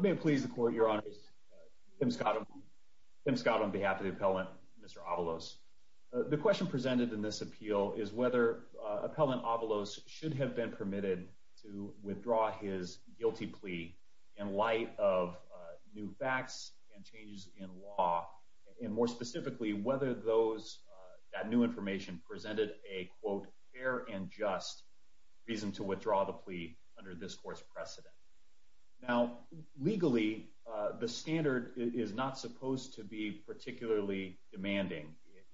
May it please the Court, Your Honors, Tim Scott on behalf of the Appellant, Mr. Avalos. The question presented in this appeal is whether Appellant Avalos should have been permitted to withdraw his guilty plea in light of new facts and changes in law, and more specifically, whether that new information presented a quote, fair and just reason to withdraw the plea under this Court's precedent. Now, legally, the standard is not supposed to be particularly demanding.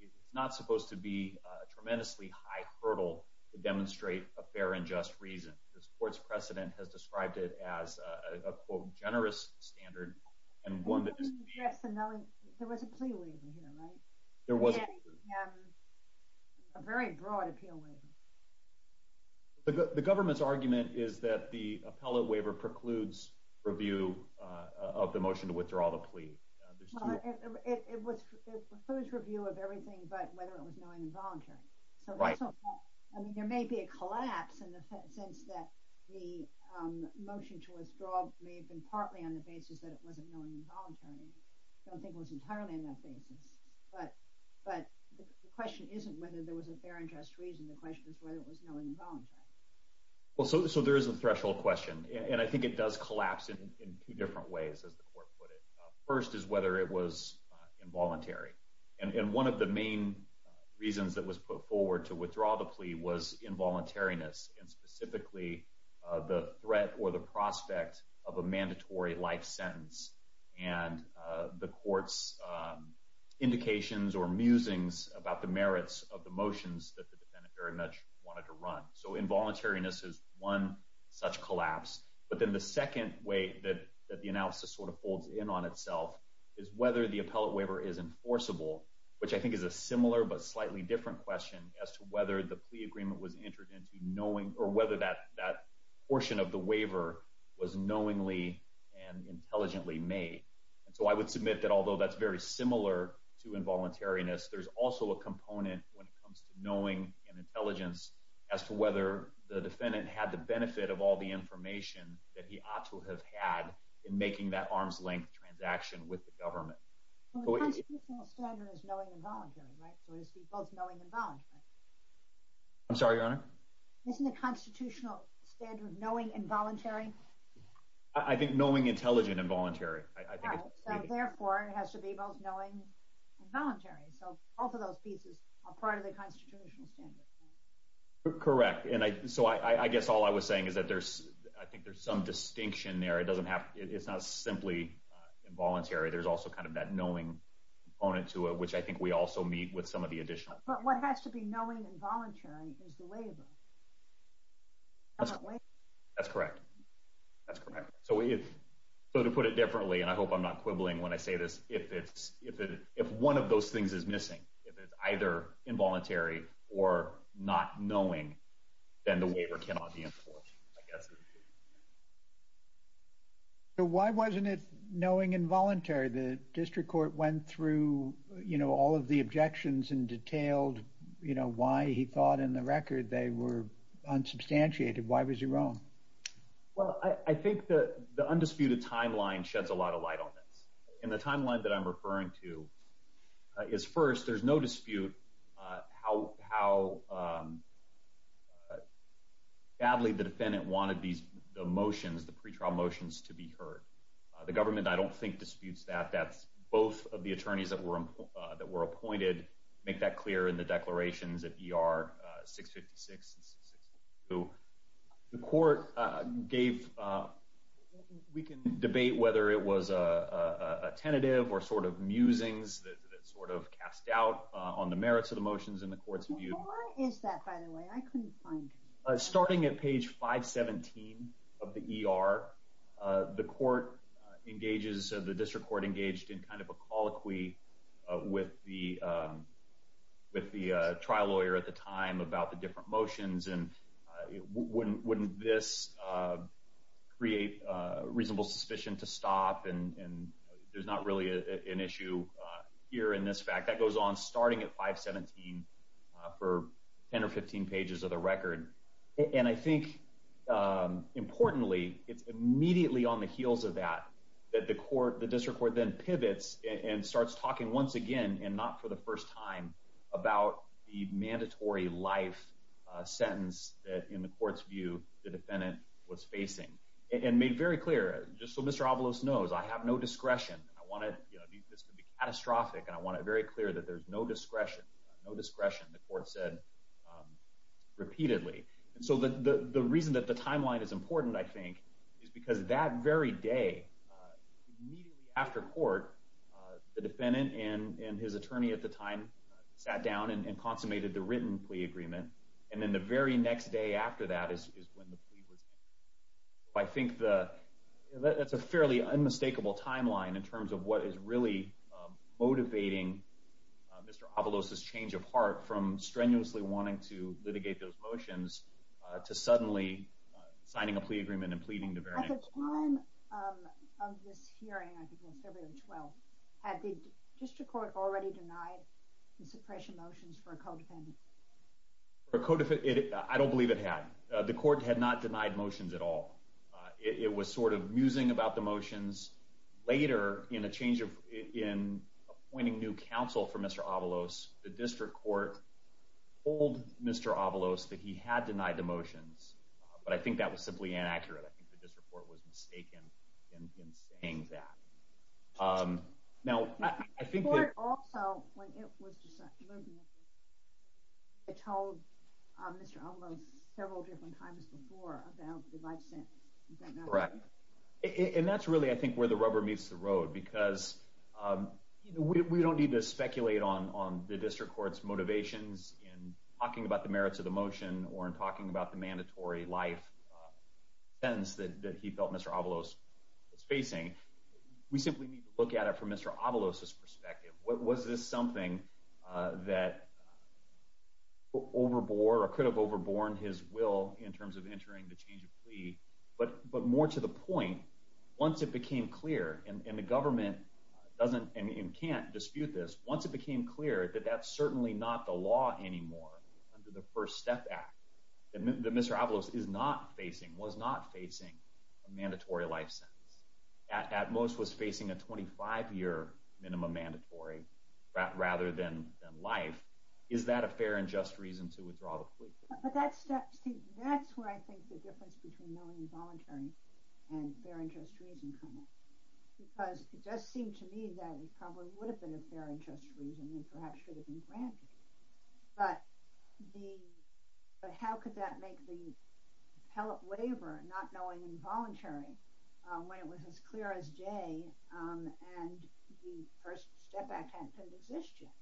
It's not supposed to be a tremendously high hurdle to demonstrate a fair and just reason. This Court's precedent has described it as a quote, generous standard, and one that is... Yes, there was a plea waiver here, right? There was. A very broad appeal waiver. The government's argument is that the appellate waiver precludes review of the motion to withdraw the plea. Well, it precludes review of everything but whether it was knowingly involuntary. Right. There may be a collapse in the sense that the motion to withdraw may have been partly on the basis that it wasn't knowingly involuntary. I don't think it was entirely on that basis. But the question isn't whether there was a fair and just reason. The question is whether it was knowingly involuntary. So there is a threshold question, and I think it does collapse in two different ways, as the Court put it. First is whether it was involuntary. And one of the main reasons that was put forward to withdraw the plea was involuntariness and specifically the threat or the prospect of a mandatory life sentence and the Court's indications or musings about the merits of the motions that the defendant very much wanted to run. So involuntariness is one such collapse. But then the second way that the analysis sort of folds in on itself is whether the appellate waiver is enforceable, which I think is a similar but slightly different question as to whether the plea agreement was entered into knowing or whether that portion of the waiver was knowingly and intelligently made. And so I would submit that although that's very similar to involuntariness, there's also a component when it comes to knowing and intelligence as to whether the defendant had the benefit of all the information that he ought to have had in making that arm's-length transaction with the government. Well, the constitutional standard is knowing and voluntary, right? So it has to be both knowing and voluntary. I'm sorry, Your Honor? Isn't the constitutional standard knowing and voluntary? I think knowing, intelligent, and voluntary. So therefore, it has to be both knowing and voluntary. So both of those pieces are part of the constitutional standard. Correct. And so I guess all I was saying is that I think there's some distinction there. It's not simply involuntary. There's also kind of that knowing component to it, which I think we also meet with some of the additional. But what has to be knowing and voluntary is the waiver. That's correct. That's correct. So to put it differently, and I hope I'm not quibbling when I say this, if one of those things is missing, if it's either involuntary or not knowing, then the waiver cannot be enforced, I guess. So why wasn't it knowing and voluntary? The district court went through all of the objections and detailed why he thought in the record they were unsubstantiated. Why was he wrong? Well, I think the undisputed timeline sheds a lot of light on this. And the timeline that I'm referring to is, first, there's no dispute how badly the defendant wanted these motions, the pretrial motions, to be heard. The government, I don't think, disputes that. That's both of the attorneys that were appointed make that clear in the declarations at ER 656 and 652. The court gave, we can debate whether it was a tentative or sort of musings that sort of cast doubt on the merits of the motions in the court's view. How long is that, by the way? I couldn't find it. Starting at page 517 of the ER, the court engages, the district court engaged in kind of a colloquy with the trial lawyer at the time about the different motions. And wouldn't this create reasonable suspicion to stop? And there's not really an issue here in this fact. That goes on starting at 517 for 10 or 15 pages of the record. And I think, importantly, it's immediately on the heels of that that the district court then pivots and starts talking once again, and not for the first time, about the mandatory life sentence that, in the court's view, the defendant was facing. And made very clear, just so Mr. Avalos knows, I have no discretion. This could be catastrophic, and I want it very clear that there's no discretion. No discretion, the court said repeatedly. And so the reason that the timeline is important, I think, is because that very day, immediately after court, the defendant and his attorney at the time sat down and consummated the written plea agreement. And then the very next day after that is when the plea was made. I think that's a fairly unmistakable timeline in terms of what is really motivating Mr. Avalos' change of heart from strenuously wanting to litigate those motions to suddenly signing a plea agreement and pleading the very next time. At the time of this hearing, I think it was February 12th, had the district court already denied the suppression motions for a co-defendant? I don't believe it had. The court had not denied motions at all. It was sort of musing about the motions. Later, in appointing new counsel for Mr. Avalos, the district court told Mr. Avalos that he had denied the motions, but I think that was simply inaccurate. I think the district court was mistaken in saying that. The court also, when it was decided, told Mr. Avalos several different times before about the license. Is that not right? Correct. And that's really, I think, where the rubber meets the road because we don't need to speculate on the district court's motivations in talking about the merits of the motion or in talking about the mandatory life sentence that he felt Mr. Avalos was facing. We simply need to look at it from Mr. Avalos' perspective. Was this something that overbore or could have overborne his will in terms of entering the change of plea, but more to the point, once it became clear and the government can't dispute this, once it became clear that that's certainly not the law anymore under the First Step Act, that Mr. Avalos was not facing a mandatory life sentence, at most was facing a 25-year minimum mandatory rather than life, is that a fair and just reason to withdraw the plea? But that's where I think the difference between knowing involuntary and fair and just reason comes in because it does seem to me that it probably would have been a fair and just reason and perhaps should have been granted. But how could that make the appellate waiver not knowing involuntary when it was as clear as day and the First Step Act hadn't existed?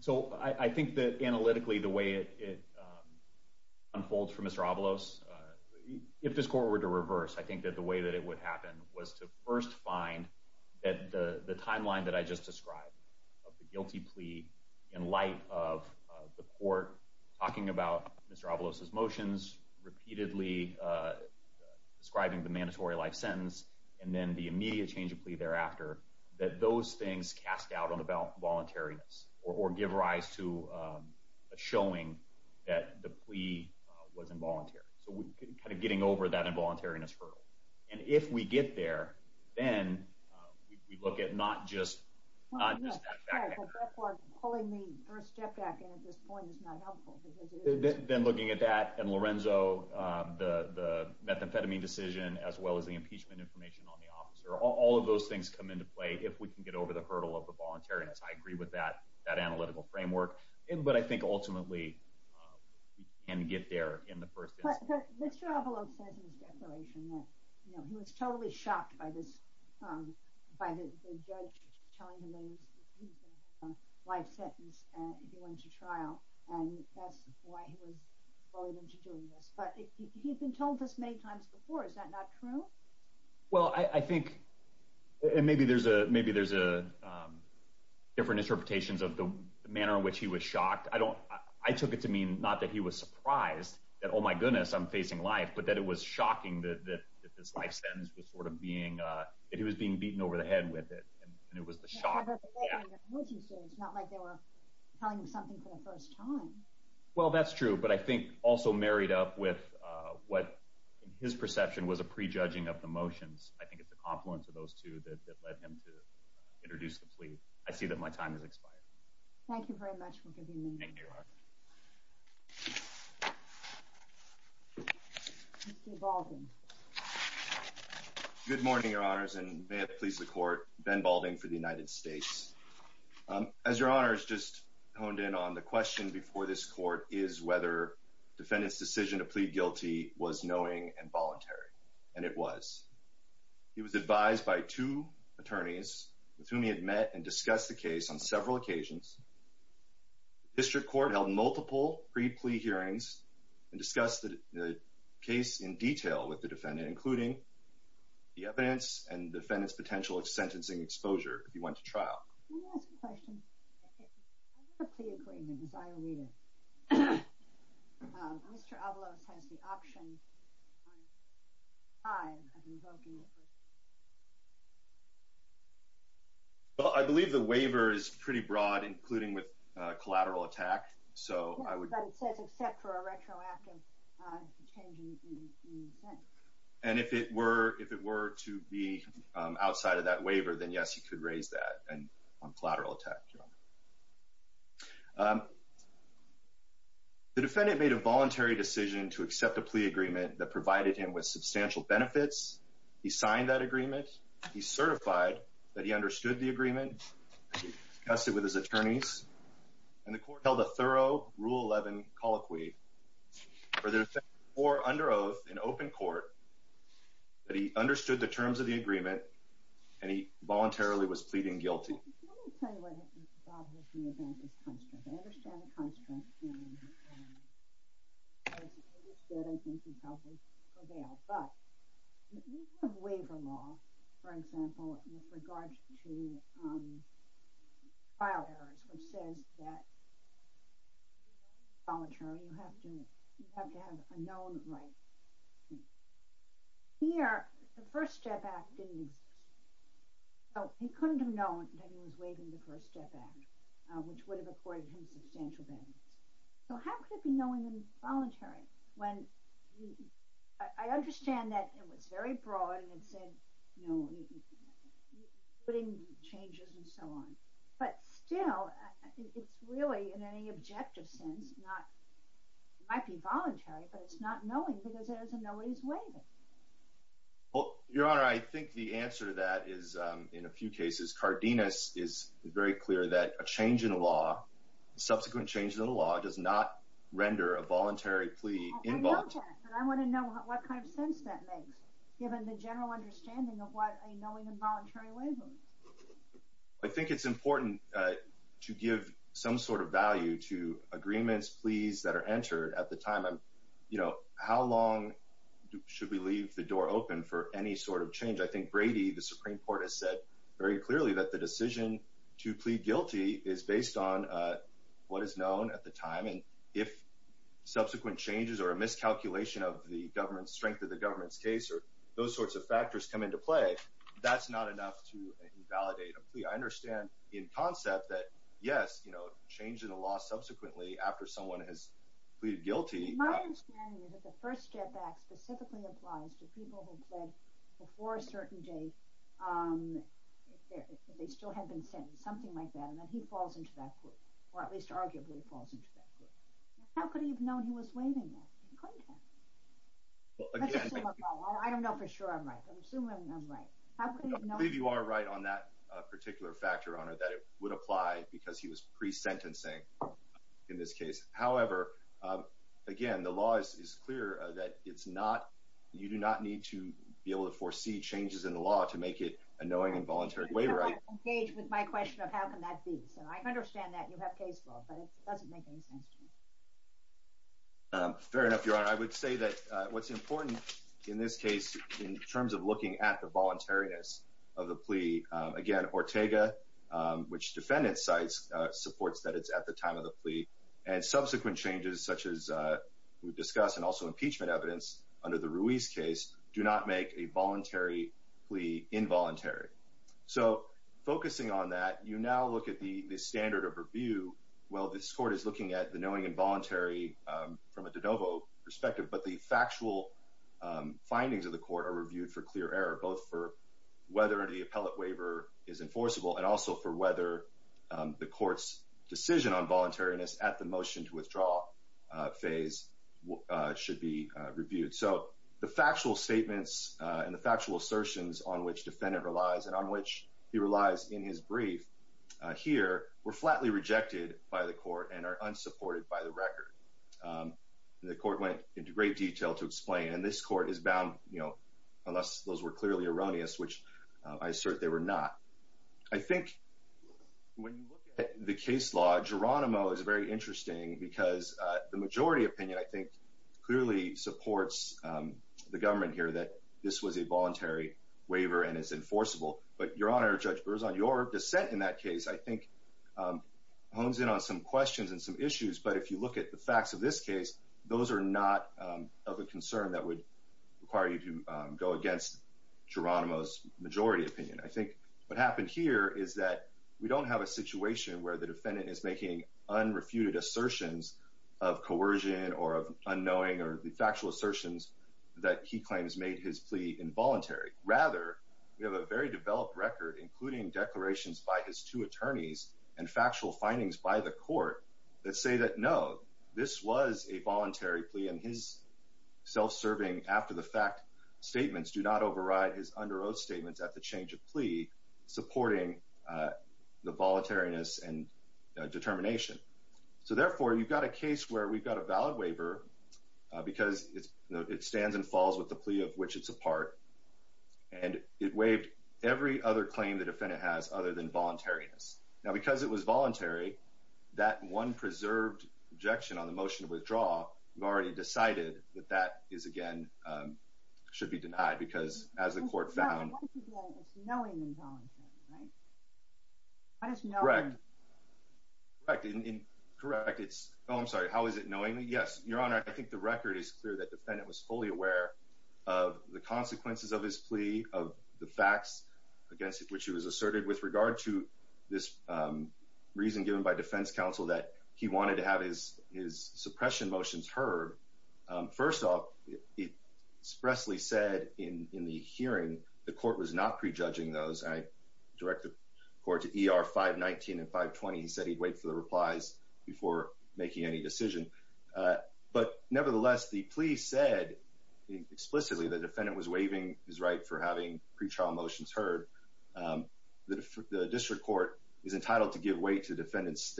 So I think that analytically the way it unfolds for Mr. Avalos, if this court were to reverse, I think that the way that it would happen was to first find that the timeline that I just described of the guilty plea in light of the court talking about Mr. Avalos' motions, repeatedly describing the mandatory life sentence, and then the immediate change of plea thereafter, that those things cast doubt on the voluntariness or give rise to a showing that the plea was involuntary. So we're kind of getting over that involuntariness hurdle. And if we get there, then we look at not just that fact. But that part, pulling the First Step Act in at this point is not helpful. Then looking at that and Lorenzo, the methamphetamine decision as well as the impeachment information on the officer, all of those things come into play if we can get over the hurdle of the voluntariness. I agree with that analytical framework. But I think ultimately we can get there in the first instance. But Mr. Avalos says in his declaration that he was totally shocked by the judge telling him that he was going to have a life sentence if he went to trial, and that's why he was bullied into doing this. But he had been told this many times before. Is that not true? Well, I think, and maybe there's different interpretations of the manner in which he was shocked. I took it to mean not that he was surprised that, oh my goodness, I'm facing life, but that it was shocking that this life sentence was sort of being, that he was being beaten over the head with it, and it was the shock. It's not like they were telling him something for the first time. Well, that's true. But I think also married up with what, in his perception, was a prejudging of the motions, I think it's a confluence of those two that led him to introduce the plea. I see that my time has expired. Thank you very much for giving me this. Thank you, Your Honor. Mr. Baldwin. Good morning, Your Honors, and may it please the Court, Ben Baldwin for the United States. As Your Honors just honed in on, the question before this Court is whether the defendant's decision to plead guilty was knowing and voluntary, and it was. He was advised by two attorneys with whom he had met and discussed the case on several occasions. The district court held multiple pre-plea hearings and discussed the case in detail with the defendant, including the evidence and the defendant's potential sentencing exposure if he went to trial. Let me ask a question. In the plea agreement, as I read it, Mr. Avalos has the option on five of revoking the first plea. Well, I believe the waiver is pretty broad, including with collateral attack. But it says except for a retroactive change in the sentence. And if it were to be outside of that waiver, then yes, he could raise that on collateral attack, Your Honor. The defendant made a voluntary decision to accept a plea agreement that provided him with substantial benefits. He signed that agreement. He certified that he understood the agreement. He discussed it with his attorneys. And the court held a thorough Rule 11 colloquy for the defendant before under oath in open court that he understood the terms of the agreement, and he voluntarily was pleading guilty. Let me tell you what I think about Mr. Avalos' constraint. I understand the constraint, and I think he probably prevailed. But the waiver law, for example, with regard to trial errors, which says that you have to have a known right. Here, the First Step Act didn't exist. So he couldn't have known that he was waiving the First Step Act, which would have accorded him substantial benefits. So how could it be known that he was voluntary? I understand that it was very broad and said, you know, putting changes and so on. But still, it's really, in any objective sense, it might be voluntary, but it's not knowing because there's a no ways waiver. Well, Your Honor, I think the answer to that is, in a few cases, Cardenas is very clear that a change in the law, subsequent change in the law, does not render a voluntary plea involuntary. I want to know what kind of sense that makes, given the general understanding of what a knowing and voluntary waiver is. I think it's important to give some sort of value to agreements, pleas that are entered at the time. You know, how long should we leave the door open for any sort of change? I think Brady, the Supreme Court, has said very clearly that the decision to plead guilty is based on what is known at the time. And if subsequent changes or a miscalculation of the strength of the government's case or those sorts of factors come into play, that's not enough to invalidate a plea. I understand in concept that, yes, you know, change in the law subsequently after someone has pleaded guilty. My understanding is that the first step back specifically applies to people who pled before a certain date if they still had been sentenced, something like that, and then he falls into that group, or at least arguably falls into that group. How could he have known he was waiving that? He couldn't have. I don't know for sure I'm right, but I'm assuming I'm right. I believe you are right on that particular factor, Your Honor, that it would apply because he was pre-sentencing in this case. However, again, the law is clear that you do not need to be able to foresee changes in the law to make it a knowing and voluntary waiver act. I don't want to engage with my question of how can that be. So I understand that you have case law, but it doesn't make any sense to me. Fair enough, Your Honor. I would say that what's important in this case in terms of looking at the voluntariness of the plea, again, which defendant cites supports that it's at the time of the plea, and subsequent changes such as we've discussed, and also impeachment evidence under the Ruiz case do not make a voluntary plea involuntary. So focusing on that, you now look at the standard of review. Well, this court is looking at the knowing and voluntary from a de novo perspective, but the factual findings of the court are reviewed for clear error, both for whether the appellate waiver is enforceable, and also for whether the court's decision on voluntariness at the motion to withdraw phase should be reviewed. So the factual statements and the factual assertions on which defendant relies and on which he relies in his brief here were flatly rejected by the court and are unsupported by the record. The court went into great detail to explain. And this court is bound, you know, unless those were clearly erroneous, which I assert they were not. I think when you look at the case law, Geronimo is very interesting because the majority opinion, I think, clearly supports the government here that this was a voluntary waiver and is enforceable. But, Your Honor, Judge Burrs, on your dissent in that case, I think hones in on some questions and some issues. But if you look at the facts of this case, those are not of a concern that would require you to go against Geronimo's majority opinion. I think what happened here is that we don't have a situation where the defendant is making unrefuted assertions of coercion or of unknowing or the factual assertions that he claims made his plea involuntary. Rather, we have a very developed record, including declarations by his two attorneys and factual findings by the court that say that, no, this was a voluntary plea. And his self-serving after-the-fact statements do not override his under oath statements at the change of plea, supporting the voluntariness and determination. So, therefore, you've got a case where we've got a valid waiver because it stands and falls with the plea of which it's a part. And it waived every other claim the defendant has other than voluntariness. Now, because it was voluntary, that one preserved objection on the motion to withdraw, we've already decided that that is, again, should be denied because, as the court found... What is he doing? It's knowing involuntary, right? Correct. Correct. Correct. Oh, I'm sorry. How is it knowing? Yes, Your Honor, I think the record is clear that the defendant was fully aware of the consequences of his plea, of the facts against which he was asserted with regard to this reason given by defense counsel that he wanted to have his suppression motions heard. First off, it expressly said in the hearing the court was not prejudging those. I directed the court to ER 519 and 520. He said he'd wait for the replies before making any decision. But, nevertheless, the plea said explicitly the defendant was waiving his right for having pretrial motions heard. The district court is entitled to give way to the defendant's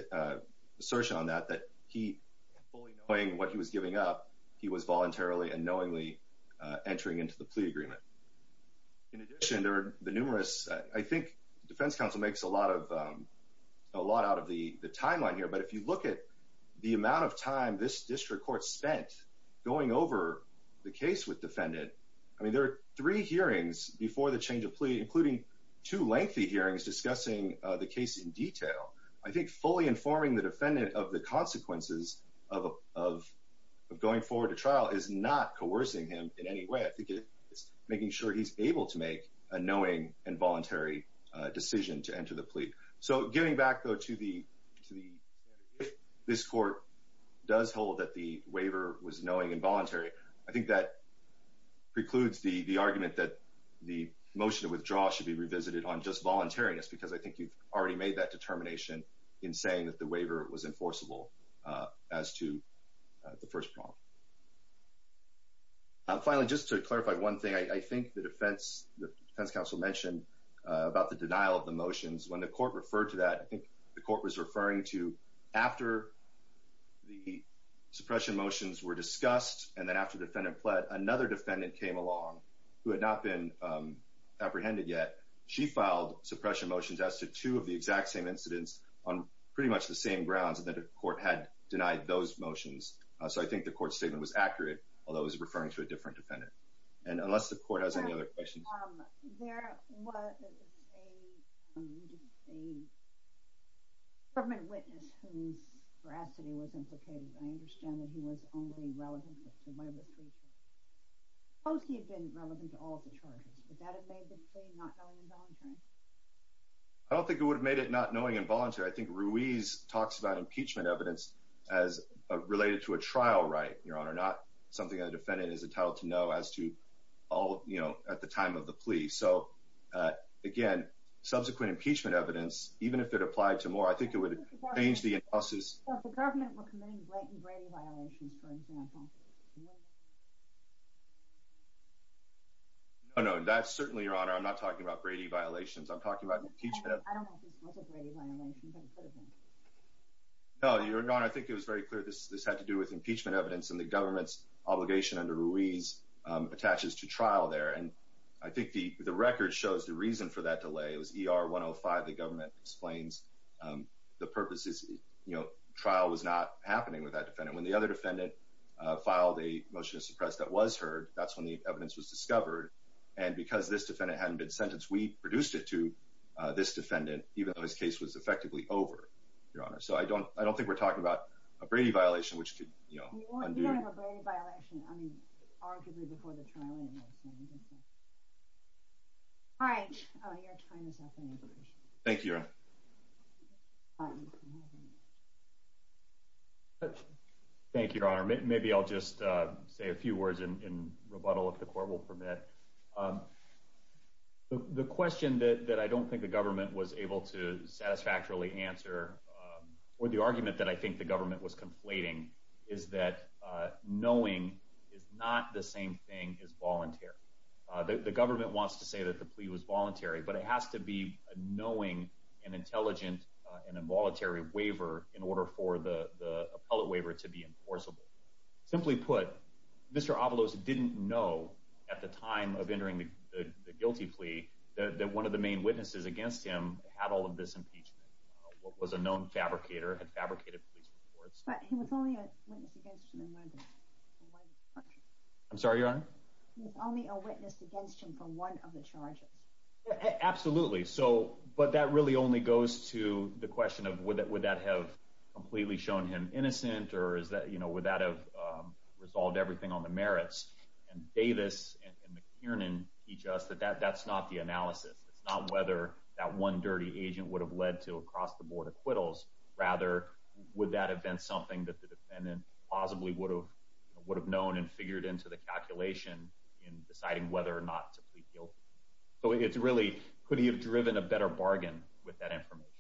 assertion on that, that he fully knowing what he was giving up, he was voluntarily and knowingly entering into the plea agreement. In addition, there are the numerous... I think defense counsel makes a lot out of the timeline here, but if you look at the amount of time this district court spent going over the case with defendant, I mean, there are three hearings before the change of plea, including two lengthy hearings discussing the case in detail. I think fully informing the defendant of the consequences of going forward to trial is not coercing him in any way. I think it's making sure he's able to make a knowing and voluntary decision to enter the plea. So giving back, though, to the standard, if this court does hold that the waiver was knowing and voluntary, I think that precludes the argument that the motion to withdraw should be revisited on just voluntariness, because I think you've already made that determination in saying that the waiver was enforceable as to the first problem. Finally, just to clarify one thing, I think the defense counsel mentioned about the denial of the motions. When the court referred to that, I think the court was referring to after the suppression motions were discussed and then after the defendant pled, another defendant came along who had not been apprehended yet. She filed suppression motions as to two of the exact same incidents on pretty much the same grounds, and then the court had denied those motions. So I think the court's statement was accurate, although it was referring to a different defendant. Unless the court has any other questions. There was a government witness whose veracity was implicated, and I understand that he was only relevant to one of the three charges. Suppose he had been relevant to all of the charges. Would that have made the plea not knowing and voluntary? I don't think it would have made it not knowing and voluntary. I think Ruiz talks about impeachment evidence as related to a trial right, Your Honor, not something a defendant is entitled to know as to all, you know, at the time of the plea. So, again, subsequent impeachment evidence, even if it applied to more, I think it would change the analysis. If the government were committing Blanton-Brady violations, for example. No, no, that's certainly, Your Honor, I'm not talking about Brady violations. I'm talking about impeachment evidence. I don't know if this was a Brady violation, but it could have been. No, Your Honor, I think it was very clear this had to do with impeachment evidence, and the government's obligation under Ruiz attaches to trial there. And I think the record shows the reason for that delay. It was ER 105. The government explains the purposes, you know, trial was not happening with that defendant. When the other defendant filed a motion to suppress that was heard, that's when the evidence was discovered. And because this defendant hadn't been sentenced, we reduced it to this defendant, even though his case was effectively over, Your Honor. So I don't think we're talking about a Brady violation, which could, you know, undo. You don't have a Brady violation, I mean, arguably before the trial ended. All right, your time is up. Thank you, Your Honor. Maybe I'll just say a few words in rebuttal, if the court will permit. The question that I don't think the government was able to satisfactorily answer, or the argument that I think the government was conflating, is that knowing is not the same thing as voluntary. The government wants to say that the plea was voluntary, but it has to be a knowing and intelligent and involuntary waiver in order for the appellate waiver to be enforceable. Simply put, Mr. Avalos didn't know at the time of entering the guilty plea that one of the main witnesses against him had all of this impeachment, was a known fabricator, had fabricated police reports. I'm sorry, Your Honor? There's only a witness against him for one of the charges. Absolutely. But that really only goes to the question of, would that have completely shown him innocent, or would that have resolved everything on the merits? And Davis and McKiernan teach us that that's not the analysis. It's not whether that one dirty agent would have led to across-the-board acquittals. Rather, would that have been something that the defendant possibly would have known and figured into the calculation in deciding whether or not to plead guilty? So it's really, could he have driven a better bargain with that information?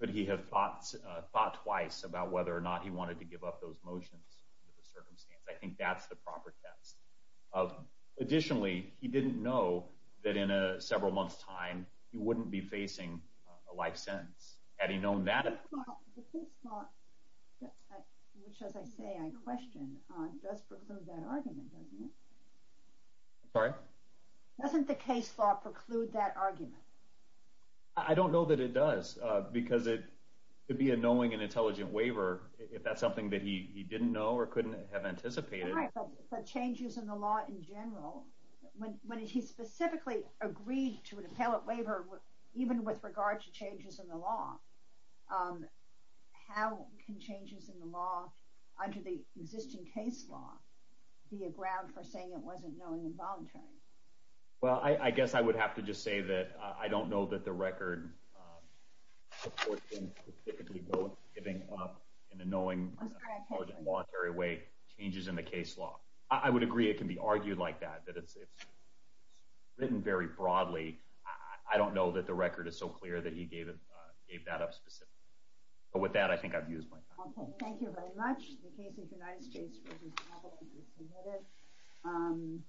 Could he have thought twice about whether or not he wanted to give up those motions under the circumstance? I think that's the proper test. Additionally, he didn't know that in several months' time, he wouldn't be facing a life sentence. Had he known that at the time? Well, the case law, which, as I say, I question, does preclude that argument, doesn't it? Sorry? Doesn't the case law preclude that argument? I don't know that it does, because it would be a knowing and intelligent waiver if that's something that he didn't know or couldn't have anticipated. All right, but changes in the law in general, when he specifically agreed to an appellate waiver, even with regard to changes in the law, how can changes in the law under the existing case law be a ground for saying it wasn't knowing and voluntary? Well, I guess I would have to just say that I don't know that the record supports him specifically giving up in a knowing, intelligent, voluntary way changes in the case law. I would agree it can be argued like that, that it's written very broadly. I don't know that the record is so clear that he gave that up specifically. But with that, I think I've used my time. Okay, thank you very much. The case of the United States v. Appellate is submitted.